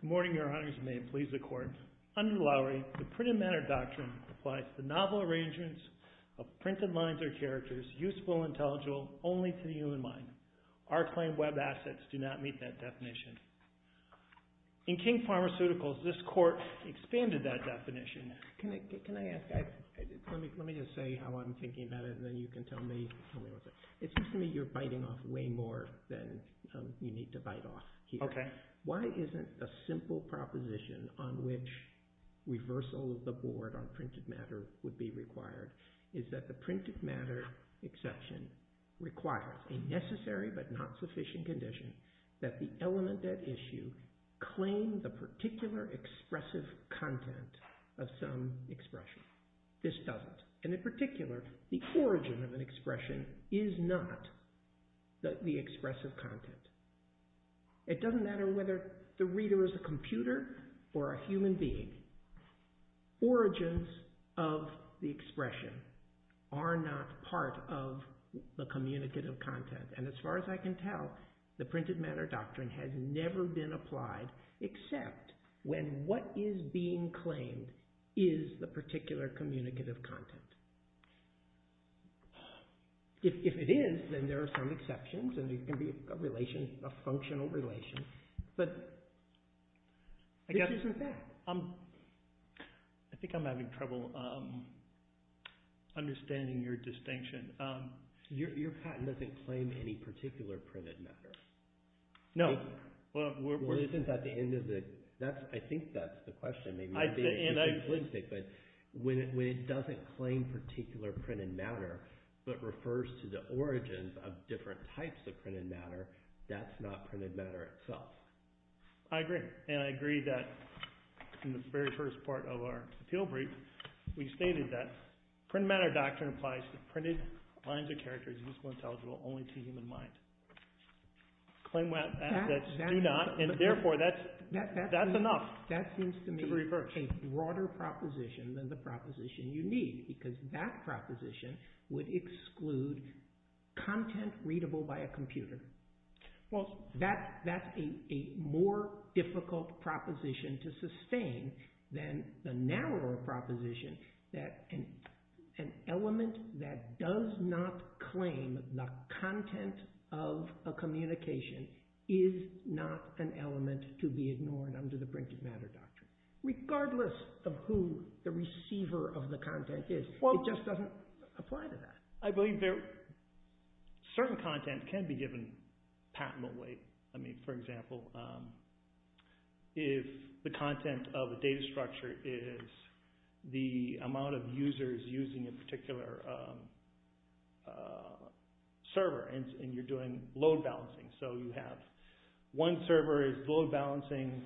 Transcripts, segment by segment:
Good morning, Your Honors, and may it please the Court. Under Lowry, the Printed Matter Doctrine applies to the novel arrangements of printed lines and other characters useful and intelligible only to the human mind. Our claimed web assets do not meet that definition. In King Pharmaceuticals, this Court expanded that definition. Can I ask, let me just say how I'm thinking about it and then you can tell me what's it. It seems to me you're biting off way more than you need to bite off here. Why isn't a simple proposition on which reversal of the board on printed matter would be required is that the printed matter exception requires a necessary but not sufficient condition that the element at issue claim the particular expressive content of some expression. This doesn't. And in particular, the origin of an expression is not the expressive content. It doesn't matter whether the reader is a computer or a human being. Origins of the expression are not part of the communicative content. And as far as I can tell, the Printed Matter Doctrine has never been applied except when what is being claimed is the particular communicative content. If it is, then there are some exceptions and there can be a relation, a functional relation. But, issues with that. I think I'm having trouble understanding your distinction. Your patent doesn't claim any particular printed matter. No. Well, isn't that the end of the... I think that's the question. Maybe I'm being too simplistic. When it doesn't claim particular printed matter but refers to the origins of different types of printed matter, that's not printed matter itself. I agree. And I agree that in the very first part of our appeal brief, we stated that Printed Matter Doctrine applies to printed lines of character that are intelligible only to the human mind. Claim that, do not, and therefore that's enough. That seems to me a broader proposition than the proposition you need because that proposition would exclude content readable by a computer. Well, that's a more difficult proposition to sustain than the narrower proposition that an element that does not claim the content of a communication is not an element to be ignored under the Printed Matter Doctrine. Regardless of who the receiver of the content is, it just doesn't apply to that. I believe certain content can be given patently. I mean, for example, if the content of a data structure is the amount of users using a particular server and you're doing load balancing. So you have one server is load balancing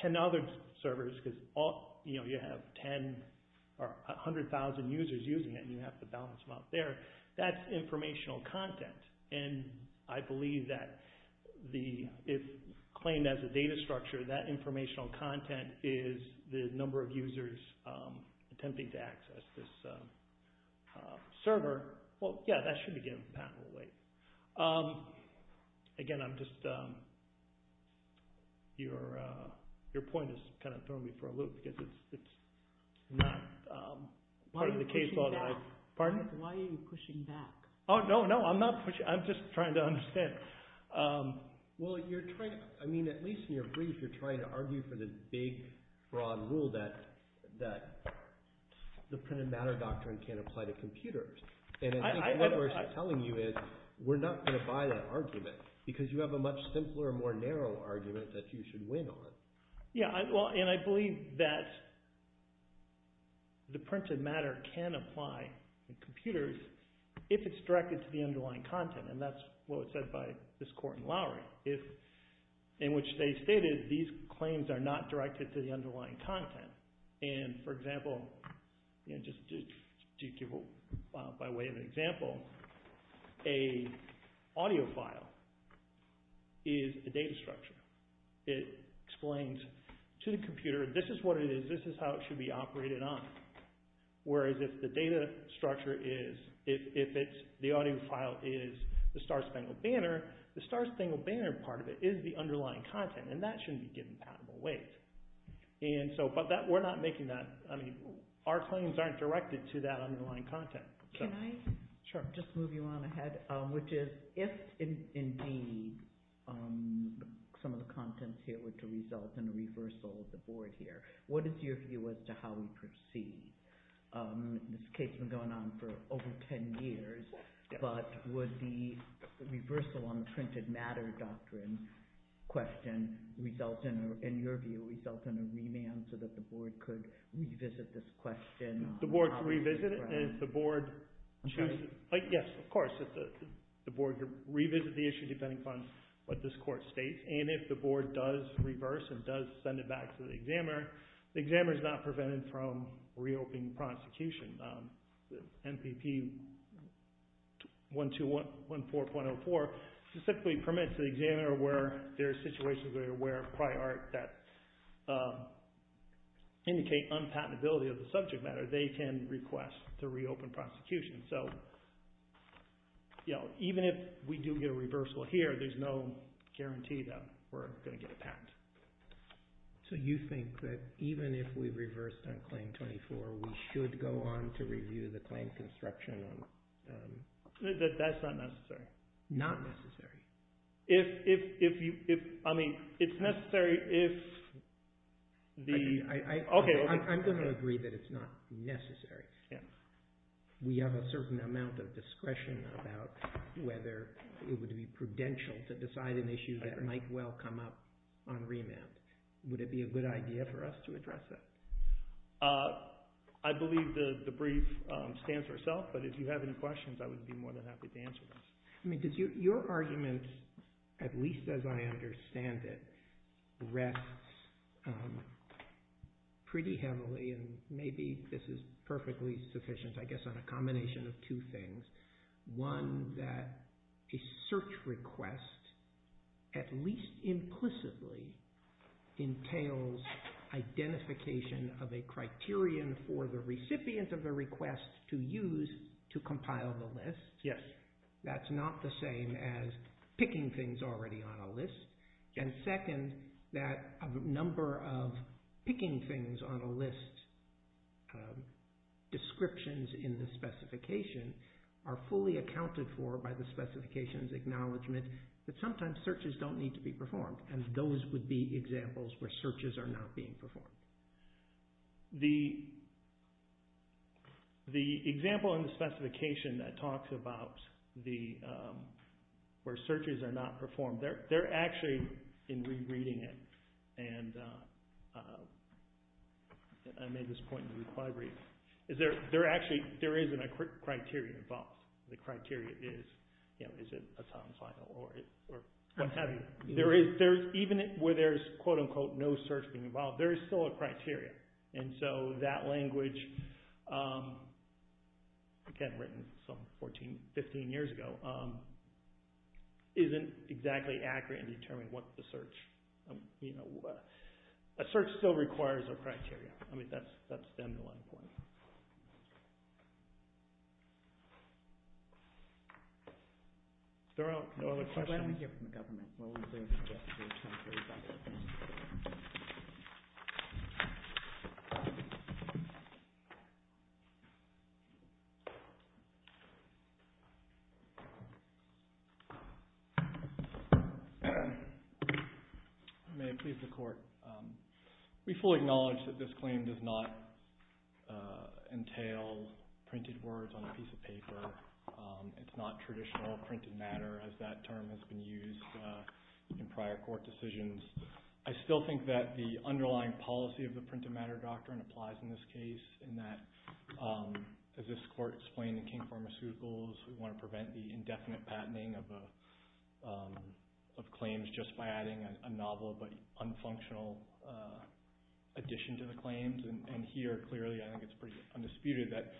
10 other servers because you have 10 or 100,000 users using it and you have to balance them out there. That's informational content. And I believe that if claimed as a data structure, that informational content is the number of users attempting to access this server. Well, yeah, that should be given patently. Again, your point is kind of throwing me for a loop because it's not part of the case. Why are you pushing back? Oh, no, no. I'm not pushing. I'm just trying to understand. Well, at least in your brief, you're trying to argue for the big, broad rule that the Printed Matter Doctrine can't apply to computers. And I think what we're telling you is we're not going to buy that argument because you have a much simpler, more narrow argument that you should win on. Yeah. Well, and I believe that the printed matter can apply to computers if it's directed to the underlying content. And that's what was said by this court in Lowry in which they stated these claims are not directed to the underlying content. And for example, just to give by way of an example, a audio file is a data structure. It explains to the computer, this is what it is. This is how it should be operated on. Whereas if the data structure is, if the audio file is the star-spangled banner, the star-spangled banner part of it is the underlying content. And that shouldn't be given patentable weight. And so, but that, we're not making that, I mean, our claims aren't directed to that underlying content. Can I? Sure. Just move you on ahead, which is if indeed some of the contents here were to result in a reversal of the board here, what is your view as to how we proceed? This case has been going on for over 10 years, but would the reversal on the Printed Matter Doctrine question result in, in your view, result in a remand so that the board could revisit this question? The board could revisit it, and if the board chooses, yes, of course, the board could revisit the issue depending upon what this court states. And if the board does reverse and does send it back to the examiner, the examiner is not prevented from reopening prosecution. MPP 1214.04 specifically permits the examiner where there are situations where prior art that indicate unpatentability of the subject matter, they can request to reopen prosecution. So, you know, even if we do get a reversal here, there's no guarantee that we're going to get a patent. So you think that even if we reversed on Claim 24, we should go on to review the claim construction? That's not necessary. Not necessary? If, I mean, it's necessary if the... I'm going to agree that it's not necessary. We have a certain amount of discretion about whether it would be prudential to decide an agreement. Would it be a good idea for us to address that? I believe the brief stands for itself, but if you have any questions, I would be more than happy to answer those. I mean, your argument, at least as I understand it, rests pretty heavily, and maybe this is perfectly sufficient, I guess, on a combination of two things. One, that a search request, at least implicitly, entails identification of a criterion for the recipient of a request to use to compile the list. Yes. That's not the same as picking things already on a list. And second, that a number of picking things on a list descriptions in the specification are fully accounted for by the specification's acknowledgement that sometimes searches don't need to be performed, and those would be examples where searches are not being performed. The example in the specification that talks about where searches are not performed, they're actually, in rereading it, and I made this point in the required brief, is there actually isn't a criteria involved. The criteria is, you know, is it a time final or what have you. There is, even where there's, quote unquote, no search being involved, there is still a criteria. And so that language, again, written some 14, 15 years ago, isn't exactly accurate in determining what the search, you know, a search still requires a criteria. I mean, that's then the one point. There are no other questions? Why don't we hear from the government? May it please the court. We fully acknowledge that this claim does not entail printed words on a piece of paper. It's not traditional printed matter, as that term has been used in prior court decisions. I still think that the underlying policy of the printed matter doctrine applies in this case, in that, as this court explained in King Pharmaceuticals, we want to prevent the indefinite patenting of claims just by adding a novel but unfunctional addition to the claims. And here, clearly, I think it's pretty undisputed that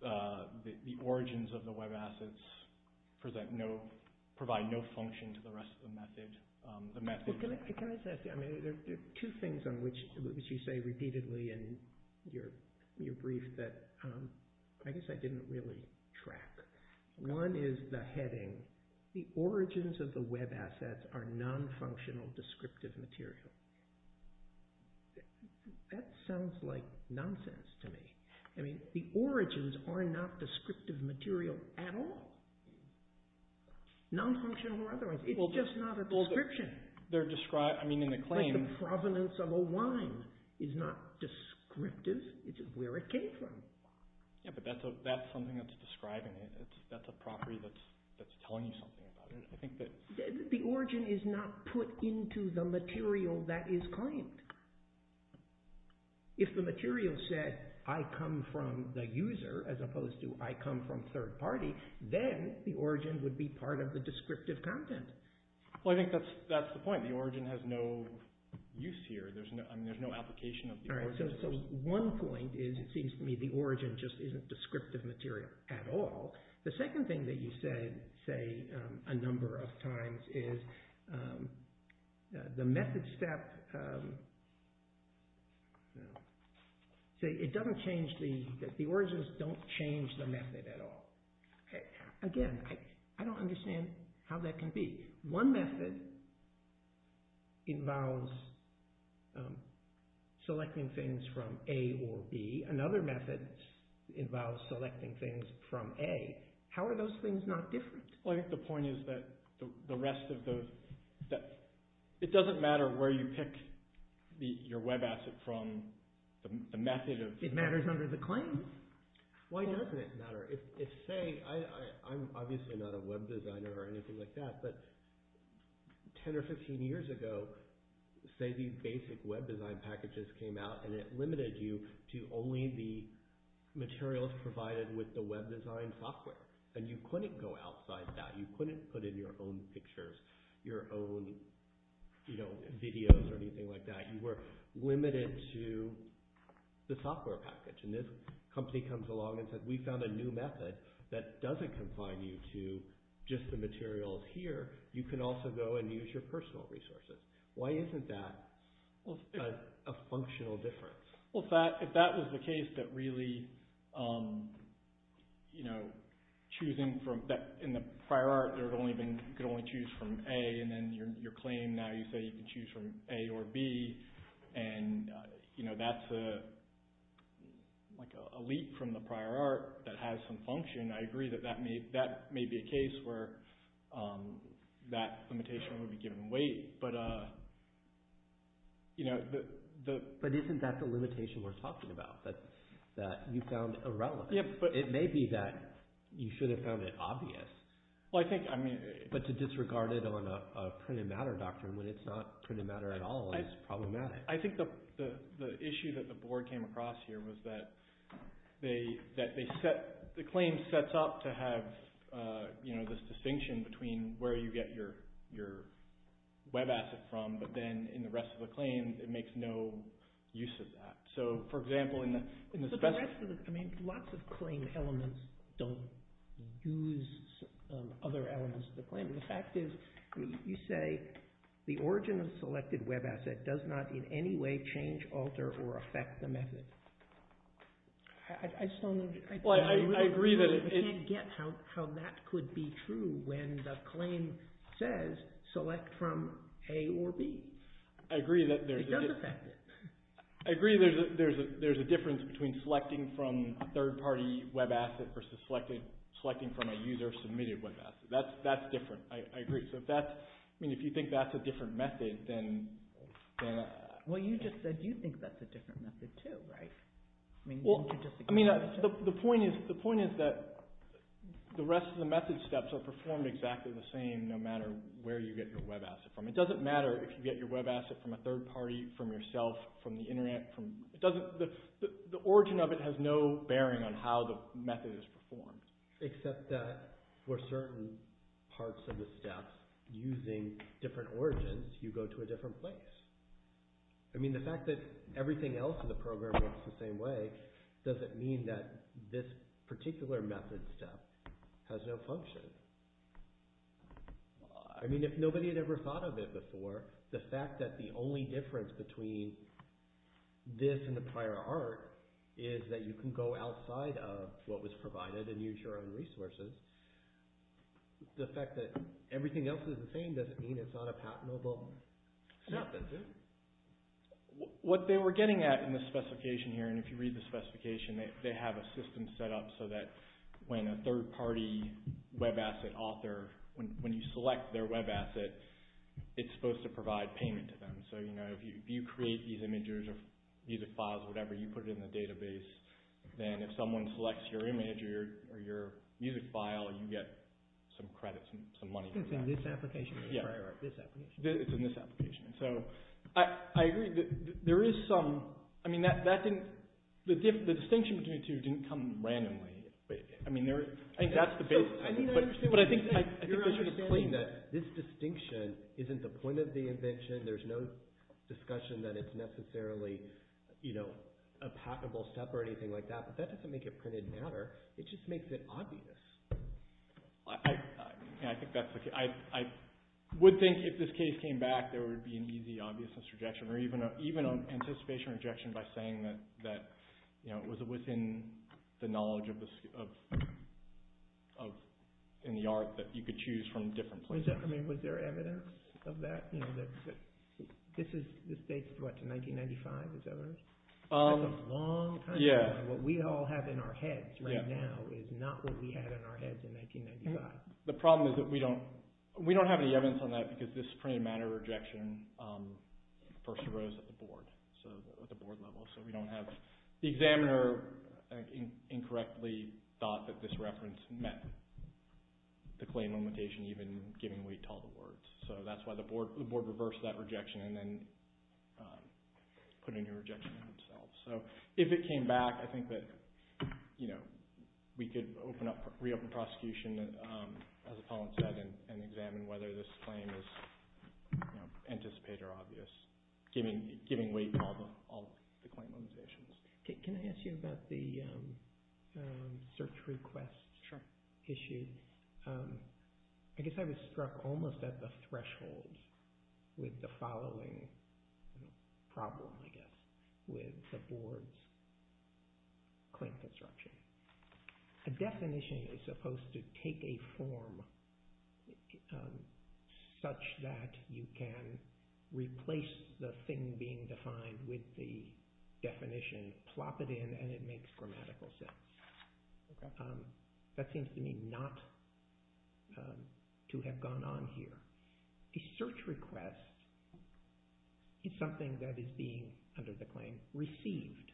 the origins of the web assets provide no function to the rest of the method. Can I just ask you, I mean, there are two things on which you say repeatedly in your brief that I guess I didn't really track. One is the heading, the origins of the web assets are non-functional descriptive material. That sounds like nonsense to me. I mean, the origins are not descriptive material at all. Non-functional or otherwise. It's just not a description. Like the provenance of a wine is not descriptive. It's where it came from. Yeah, but that's something that's describing it. That's a property that's telling you something about it. The origin is not put into the material that is claimed. If the material said, I come from the user as opposed to I come from third party, then the origin would be part of the descriptive content. Well, I think that's the point. The origin has no use here. There's no application of the origin. So one point is it seems to me the origin just isn't descriptive material at all. The second thing that you said, say, a number of times is the method step, it doesn't change the, the origins don't change the method at all. Again, I don't understand how that can be. One method involves selecting things from A or B. Another method involves selecting things from A. How are those things not different? Well, I think the point is that the rest of those, it doesn't matter where you pick your web asset from, the method of... It matters under the claims. Why doesn't it matter? If, say, I'm obviously not a web designer or anything like that, but 10 or 15 years ago, say these basic web design packages came out and it limited you to only the materials provided with the web design software. And you couldn't go outside that. You couldn't put in your own pictures, your own videos or anything like that. You were limited to the software package. And this company comes along and says, we found a new method that doesn't confine you to just the materials here. You can also go and use your personal resources. Why isn't that a functional difference? Well, if that was the case that really choosing from... In the prior art, you could only choose from A and then your claim now you say you can choose from A or B. And that's a leap from the prior art that has some function. I agree that that may be a case where that limitation would be given weight. But isn't that the limitation we're talking about? That you found irrelevant. It may be that you should have found it obvious. Well, I think... But to disregard it on a printed matter doctrine when it's not printed matter at all is problematic. I think the issue that the board came across here was that the claim sets up to have this distinction between where you get your web asset from, but then in the rest of the claim it makes no use of that. So, for example, in the... Lots of claim elements don't use other elements of the claim. The fact is you say the origin of the selected web asset does not in any way change, alter, or affect the method. I just don't know... Well, I agree that... I can't get how that could be true when the claim says select from A or B. I agree that there's... It does affect it. I agree there's a difference between selecting from a third-party web asset versus selecting from a user-submitted web asset. That's different. I agree. So if that's... I mean, if you think that's a different method, then... Well, you just said you think that's a different method too, right? I mean, you could just... Well, I mean, the point is that the rest of the method steps are performed exactly the same no matter where you get your web asset from. It doesn't matter if you get your web asset from a third-party, from yourself, from the internet, from... It doesn't... The origin of it has no bearing on how the method is performed. Except that for certain parts of the steps using different origins, you go to a different place. I mean, the fact that everything else in the program works the same way doesn't mean that this particular method step has no function. I mean, if nobody had ever thought of it before, the fact that the only difference between this and the prior art is that you can go outside of what was provided and use your own resources, the fact that everything else is the same doesn't mean it's not a patentable step, does it? What they were getting at in the specification here, and if you read the specification, they have a system set up so that when a third-party web asset author, when you select their web asset, it's supposed to provide payment to them. So, you know, if you create these images or these files or whatever, you put it in the database, then if someone selects your image or your music file, you get some credit, some money for that. It's in this application or the prior art? This application. It's in this application. So, I agree that there is some... I mean, that didn't... The distinction between the two didn't come randomly. I mean, there... I think that's the basis. I mean, I understand what you're saying. You're understanding that this distinction isn't the point of the invention. There's no discussion that it's necessarily, you know, a patentable step or anything like that, but that doesn't make it printed in matter. It just makes it obvious. I think that's the case. I would think if this case came back, there would be an easy obviousness rejection or even an anticipation rejection by saying that, you know, it was within the knowledge in the art that you could choose from different places. I mean, was there evidence of that? You know, this is... This dates, what, to 1995, is that right? That's a long time. Yeah. What we all have in our heads right now is not what we had in our heads in 1995. The problem is that we don't... We don't have any evidence on that because this printed in matter rejection first arose at the board. So, at the board level. So, we don't have... The examiner, I think, incorrectly thought that this reference met the claim limitation even giving weight to all the words. So, that's why the board reversed that rejection and then put a new rejection in themselves. So, if it came back, I think that, you know, we could open up... Reopen prosecution, as Paulin said, and examine whether this claim is, you know, anticipated or obvious, giving weight to all the claim limitations. Can I ask you about the search request issue? I guess I was struck almost at the threshold with the following problem, I guess, with the board's claim construction. A definition is supposed to take a form such that you can replace the thing being defined with the definition, plop it in, and it makes grammatical sense. Okay. That seems to me not to have gone on here. A search request is something that is being, under the claim, received.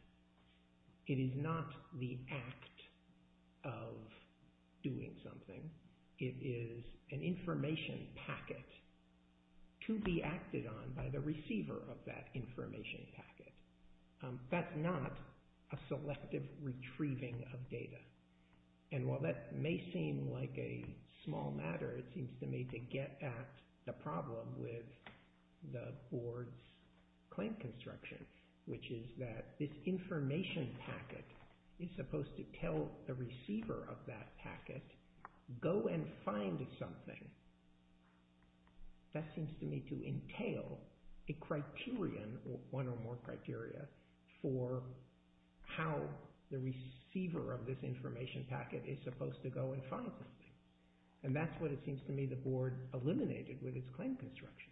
It is not the act of doing something. It is an information packet to be acted on by the receiver of that information packet. That's not a selective retrieving of data. And while that may seem like a small matter, it seems to me to get at the problem with the board's claim construction, which is that this information packet is supposed to tell the receiver of that packet, go and find something. That seems to me to entail a criterion, one or more criteria, for how the receiver of this information packet is supposed to go and find something. And that's what it seems to me the board eliminated with its claim construction.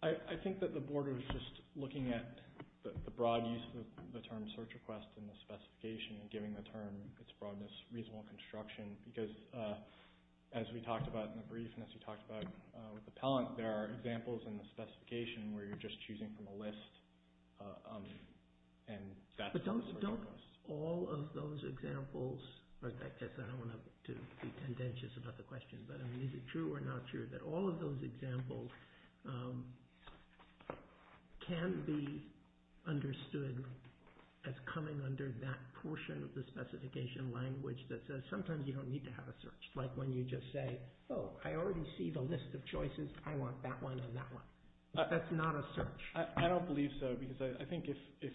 I think that the board was just looking at the broad use of the term search request and the specification and giving the term its broadness reasonable construction because as we talked about in the brief and as we talked about with appellant, there are examples in the specification where you're just choosing from a list. But don't all of those examples, I guess I don't want to be contentious about the question, but is it true or not true that all of those examples can be understood as coming under that portion of the specification language that says sometimes you don't need to have a search, like when you just say, oh, I already see the list of choices. I want that one and that one. That's not a search. I don't believe so because I think if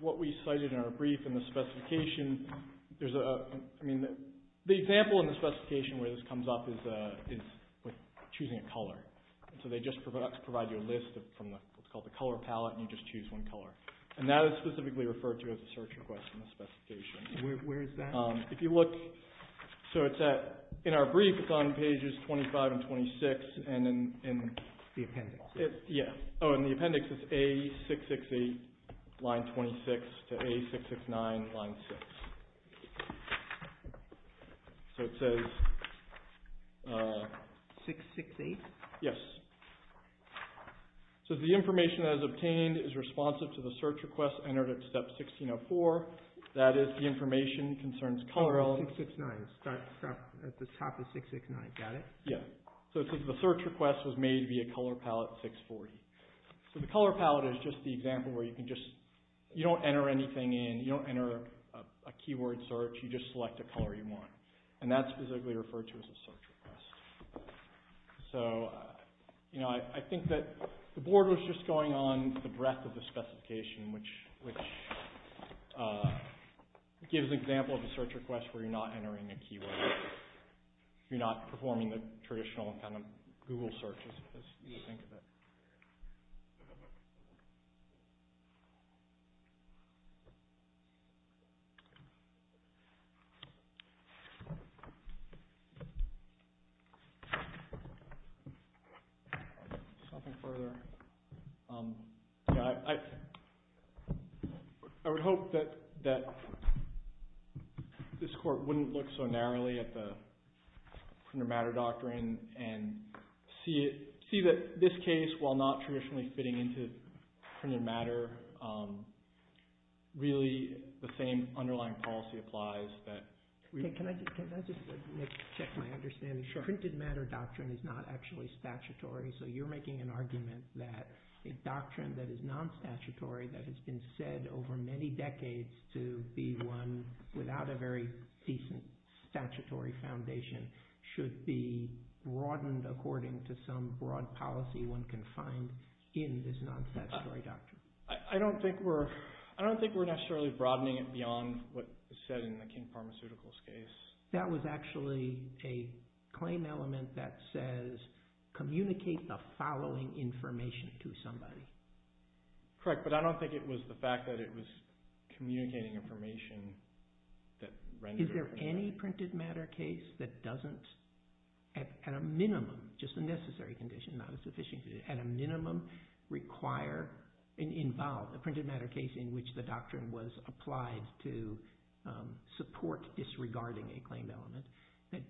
what we cited in our brief in the specification, there's a, I mean, the example in the specification where this comes up is choosing a color. So they just provide you a list from what's called the color palette and you just choose one color. And that is specifically referred to as a search request in the specification. Where is that? If you look, so it's at, in our brief, it's on pages 25 and 26 and then in the appendix. Yeah. Oh, in the appendix, it's A668 line 26 to A669 line 6. So it says. 668? Yes. So the information that is obtained is responsive to the search request entered at step 1604. That is the information concerns color. 669, at the top of 669. Got it? Yeah. So it says the search request was made via color palette 640. So the color palette is just the example where you can just, you don't enter anything in. You don't enter a keyword search. You just select a color you want. And that's specifically referred to as a search request. So, you know, I think that the board was just going on the breadth of the specification which gives an example of a search request where you're not entering a keyword. You're not performing the traditional kind of Google searches as you would think of it. Nothing further. I would hope that this court wouldn't look so narrowly at the printed matter doctrine and see that this case, while not traditionally fitting into printed matter, really the same underlying policy applies. Can I just check my understanding? Sure. The printed matter doctrine is not actually statutory, so you're making an argument that a doctrine that is non-statutory that has been said over many decades to be one without a very decent statutory foundation should be broadened according to some broad policy one can find in this non-statutory doctrine. I don't think we're necessarily broadening it beyond what is said in the King Pharmaceuticals case. That was actually a claim element that says, communicate the following information to somebody. Correct, but I don't think it was the fact that it was communicating information that rendered it. Is there any printed matter case that doesn't, at a minimum, just a necessary condition, not a sufficient condition, at a minimum require and involve a printed matter case in which the doctrine was applied to support disregarding a claimed element that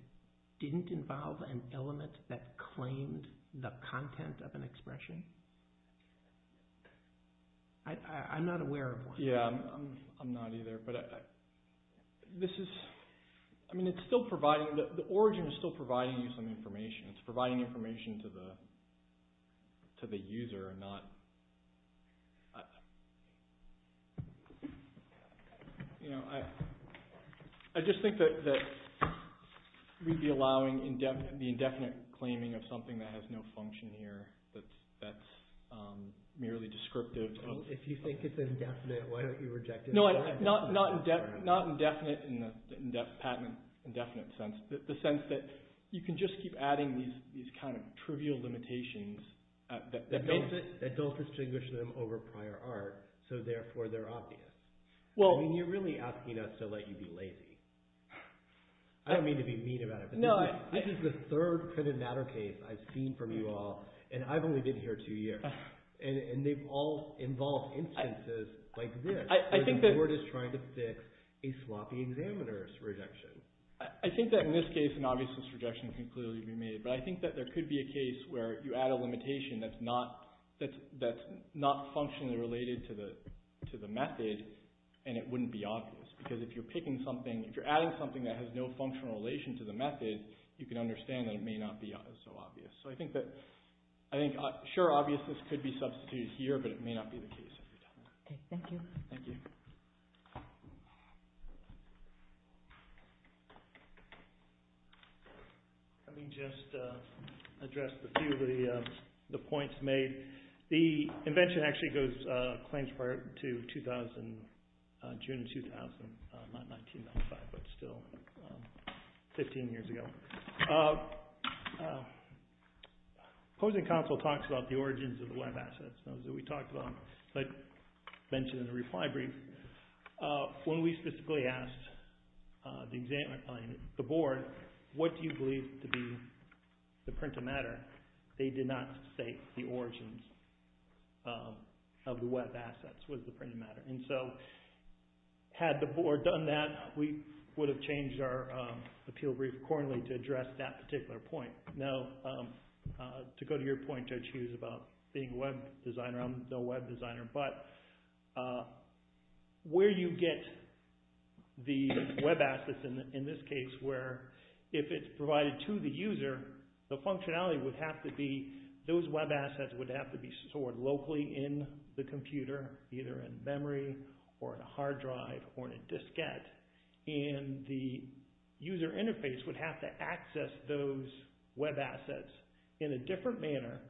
didn't involve an element that claimed the content of an expression? I'm not aware of one. Yeah, I'm not either. The origin is still providing you some information. It's providing information to the user and not— I just think that we'd be allowing the indefinite claiming of something that has no function here that's merely descriptive. If you think it's indefinite, why don't you reject it? Not indefinite in the patent indefinite sense, the sense that you can just keep adding these kind of trivial limitations that don't— That don't distinguish them over prior art, so therefore they're obvious. I mean, you're really asking us to let you be lazy. I don't mean to be mean about it, but this is the third printed matter case I've seen from you all, and I've only been here two years. And they've all involved instances like this, where the court is trying to fix a sloppy examiner's rejection. I think that in this case, an obviousness rejection can clearly be made, but I think that there could be a case where you add a limitation that's not functionally related to the method, and it wouldn't be obvious, because if you're picking something— if you're adding something that has no functional relation to the method, you can understand that it may not be so obvious. So I think that—I think, sure, obviousness could be substituted here, but it may not be the case every time. Okay, thank you. Thank you. Let me just address a few of the points made. The invention actually goes—claims prior to 2000, June 2000, not 1995, but still 15 years ago. Opposing counsel talks about the origins of the web assets, those that we talked about, like mentioned in the reply brief, when we specifically asked the board, what do you believe to be the print of matter, they did not state the origins of the web assets was the print of matter. And so had the board done that, we would have changed our appeal brief accordingly to address that particular point. Now, to go to your point, Judge Hughes, about being a web designer, I'm no web designer, but where you get the web assets, in this case, where if it's provided to the user, the functionality would have to be—those web assets would have to be stored locally in the computer, either in memory or in a hard drive or in a diskette, and the user interface would have to access those web assets in a different manner,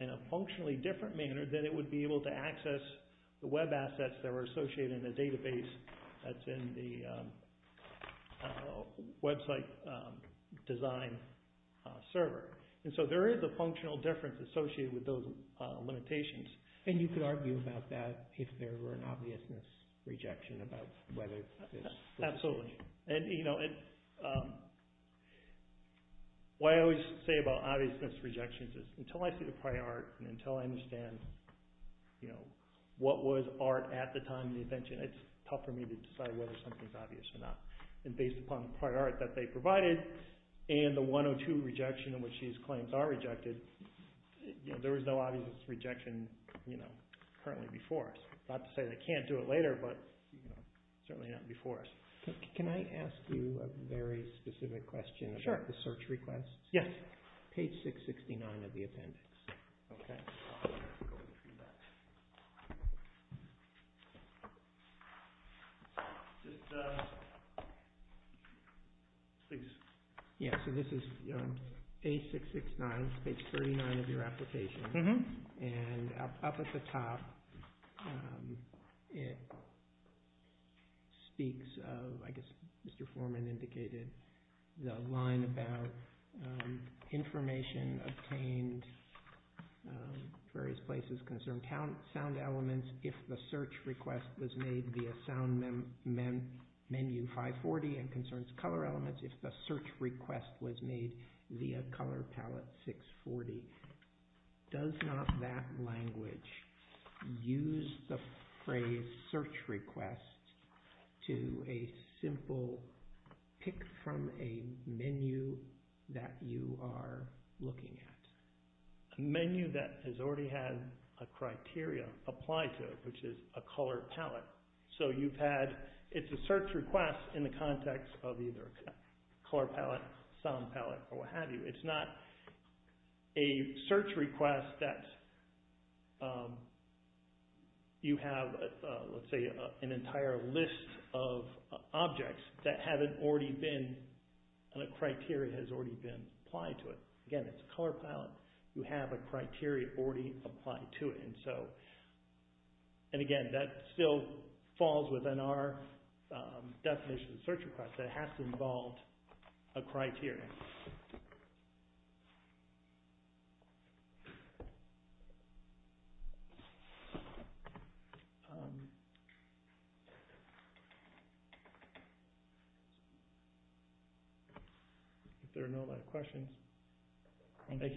in a functionally different manner than it would be able to access the web assets that were associated in the database that's in the website design server. And so there is a functional difference associated with those limitations. And you could argue about that if there were an obviousness rejection about whether this— Absolutely. And, you know, what I always say about obviousness rejections is until I see the prior art and until I understand, you know, what was art at the time of the invention, it's tough for me to decide whether something's obvious or not. And based upon the prior art that they provided and the 102 rejection in which these claims are rejected, you know, there was no obvious rejection, you know, currently before us. Not to say they can't do it later, but, you know, certainly not before us. Can I ask you a very specific question about the search requests? Sure. Yes. Page 669 of the appendix. Okay. Please. Yeah, so this is page 669, page 39 of your application. And up at the top, it speaks of, I guess Mr. Foreman indicated, the line about information obtained, various places concerned, sound elements if the search request was made via sound menu 540 and concerns color elements if the search request was made via color palette 640. Does not that language use the phrase search requests to a simple pick from a menu that you are looking at? A menu that has already had a criteria applied to it, which is a color palette. So you've had, it's a search request in the context of either color palette, sound palette, or what have you. It's not a search request that you have, let's say, an entire list of objects that haven't already been, and a criteria has already been applied to it. Again, it's a color palette. You have a criteria already applied to it. And so, and again, that still falls within our definition of search request. It has to involve a criteria. If there are no other questions. Thank you.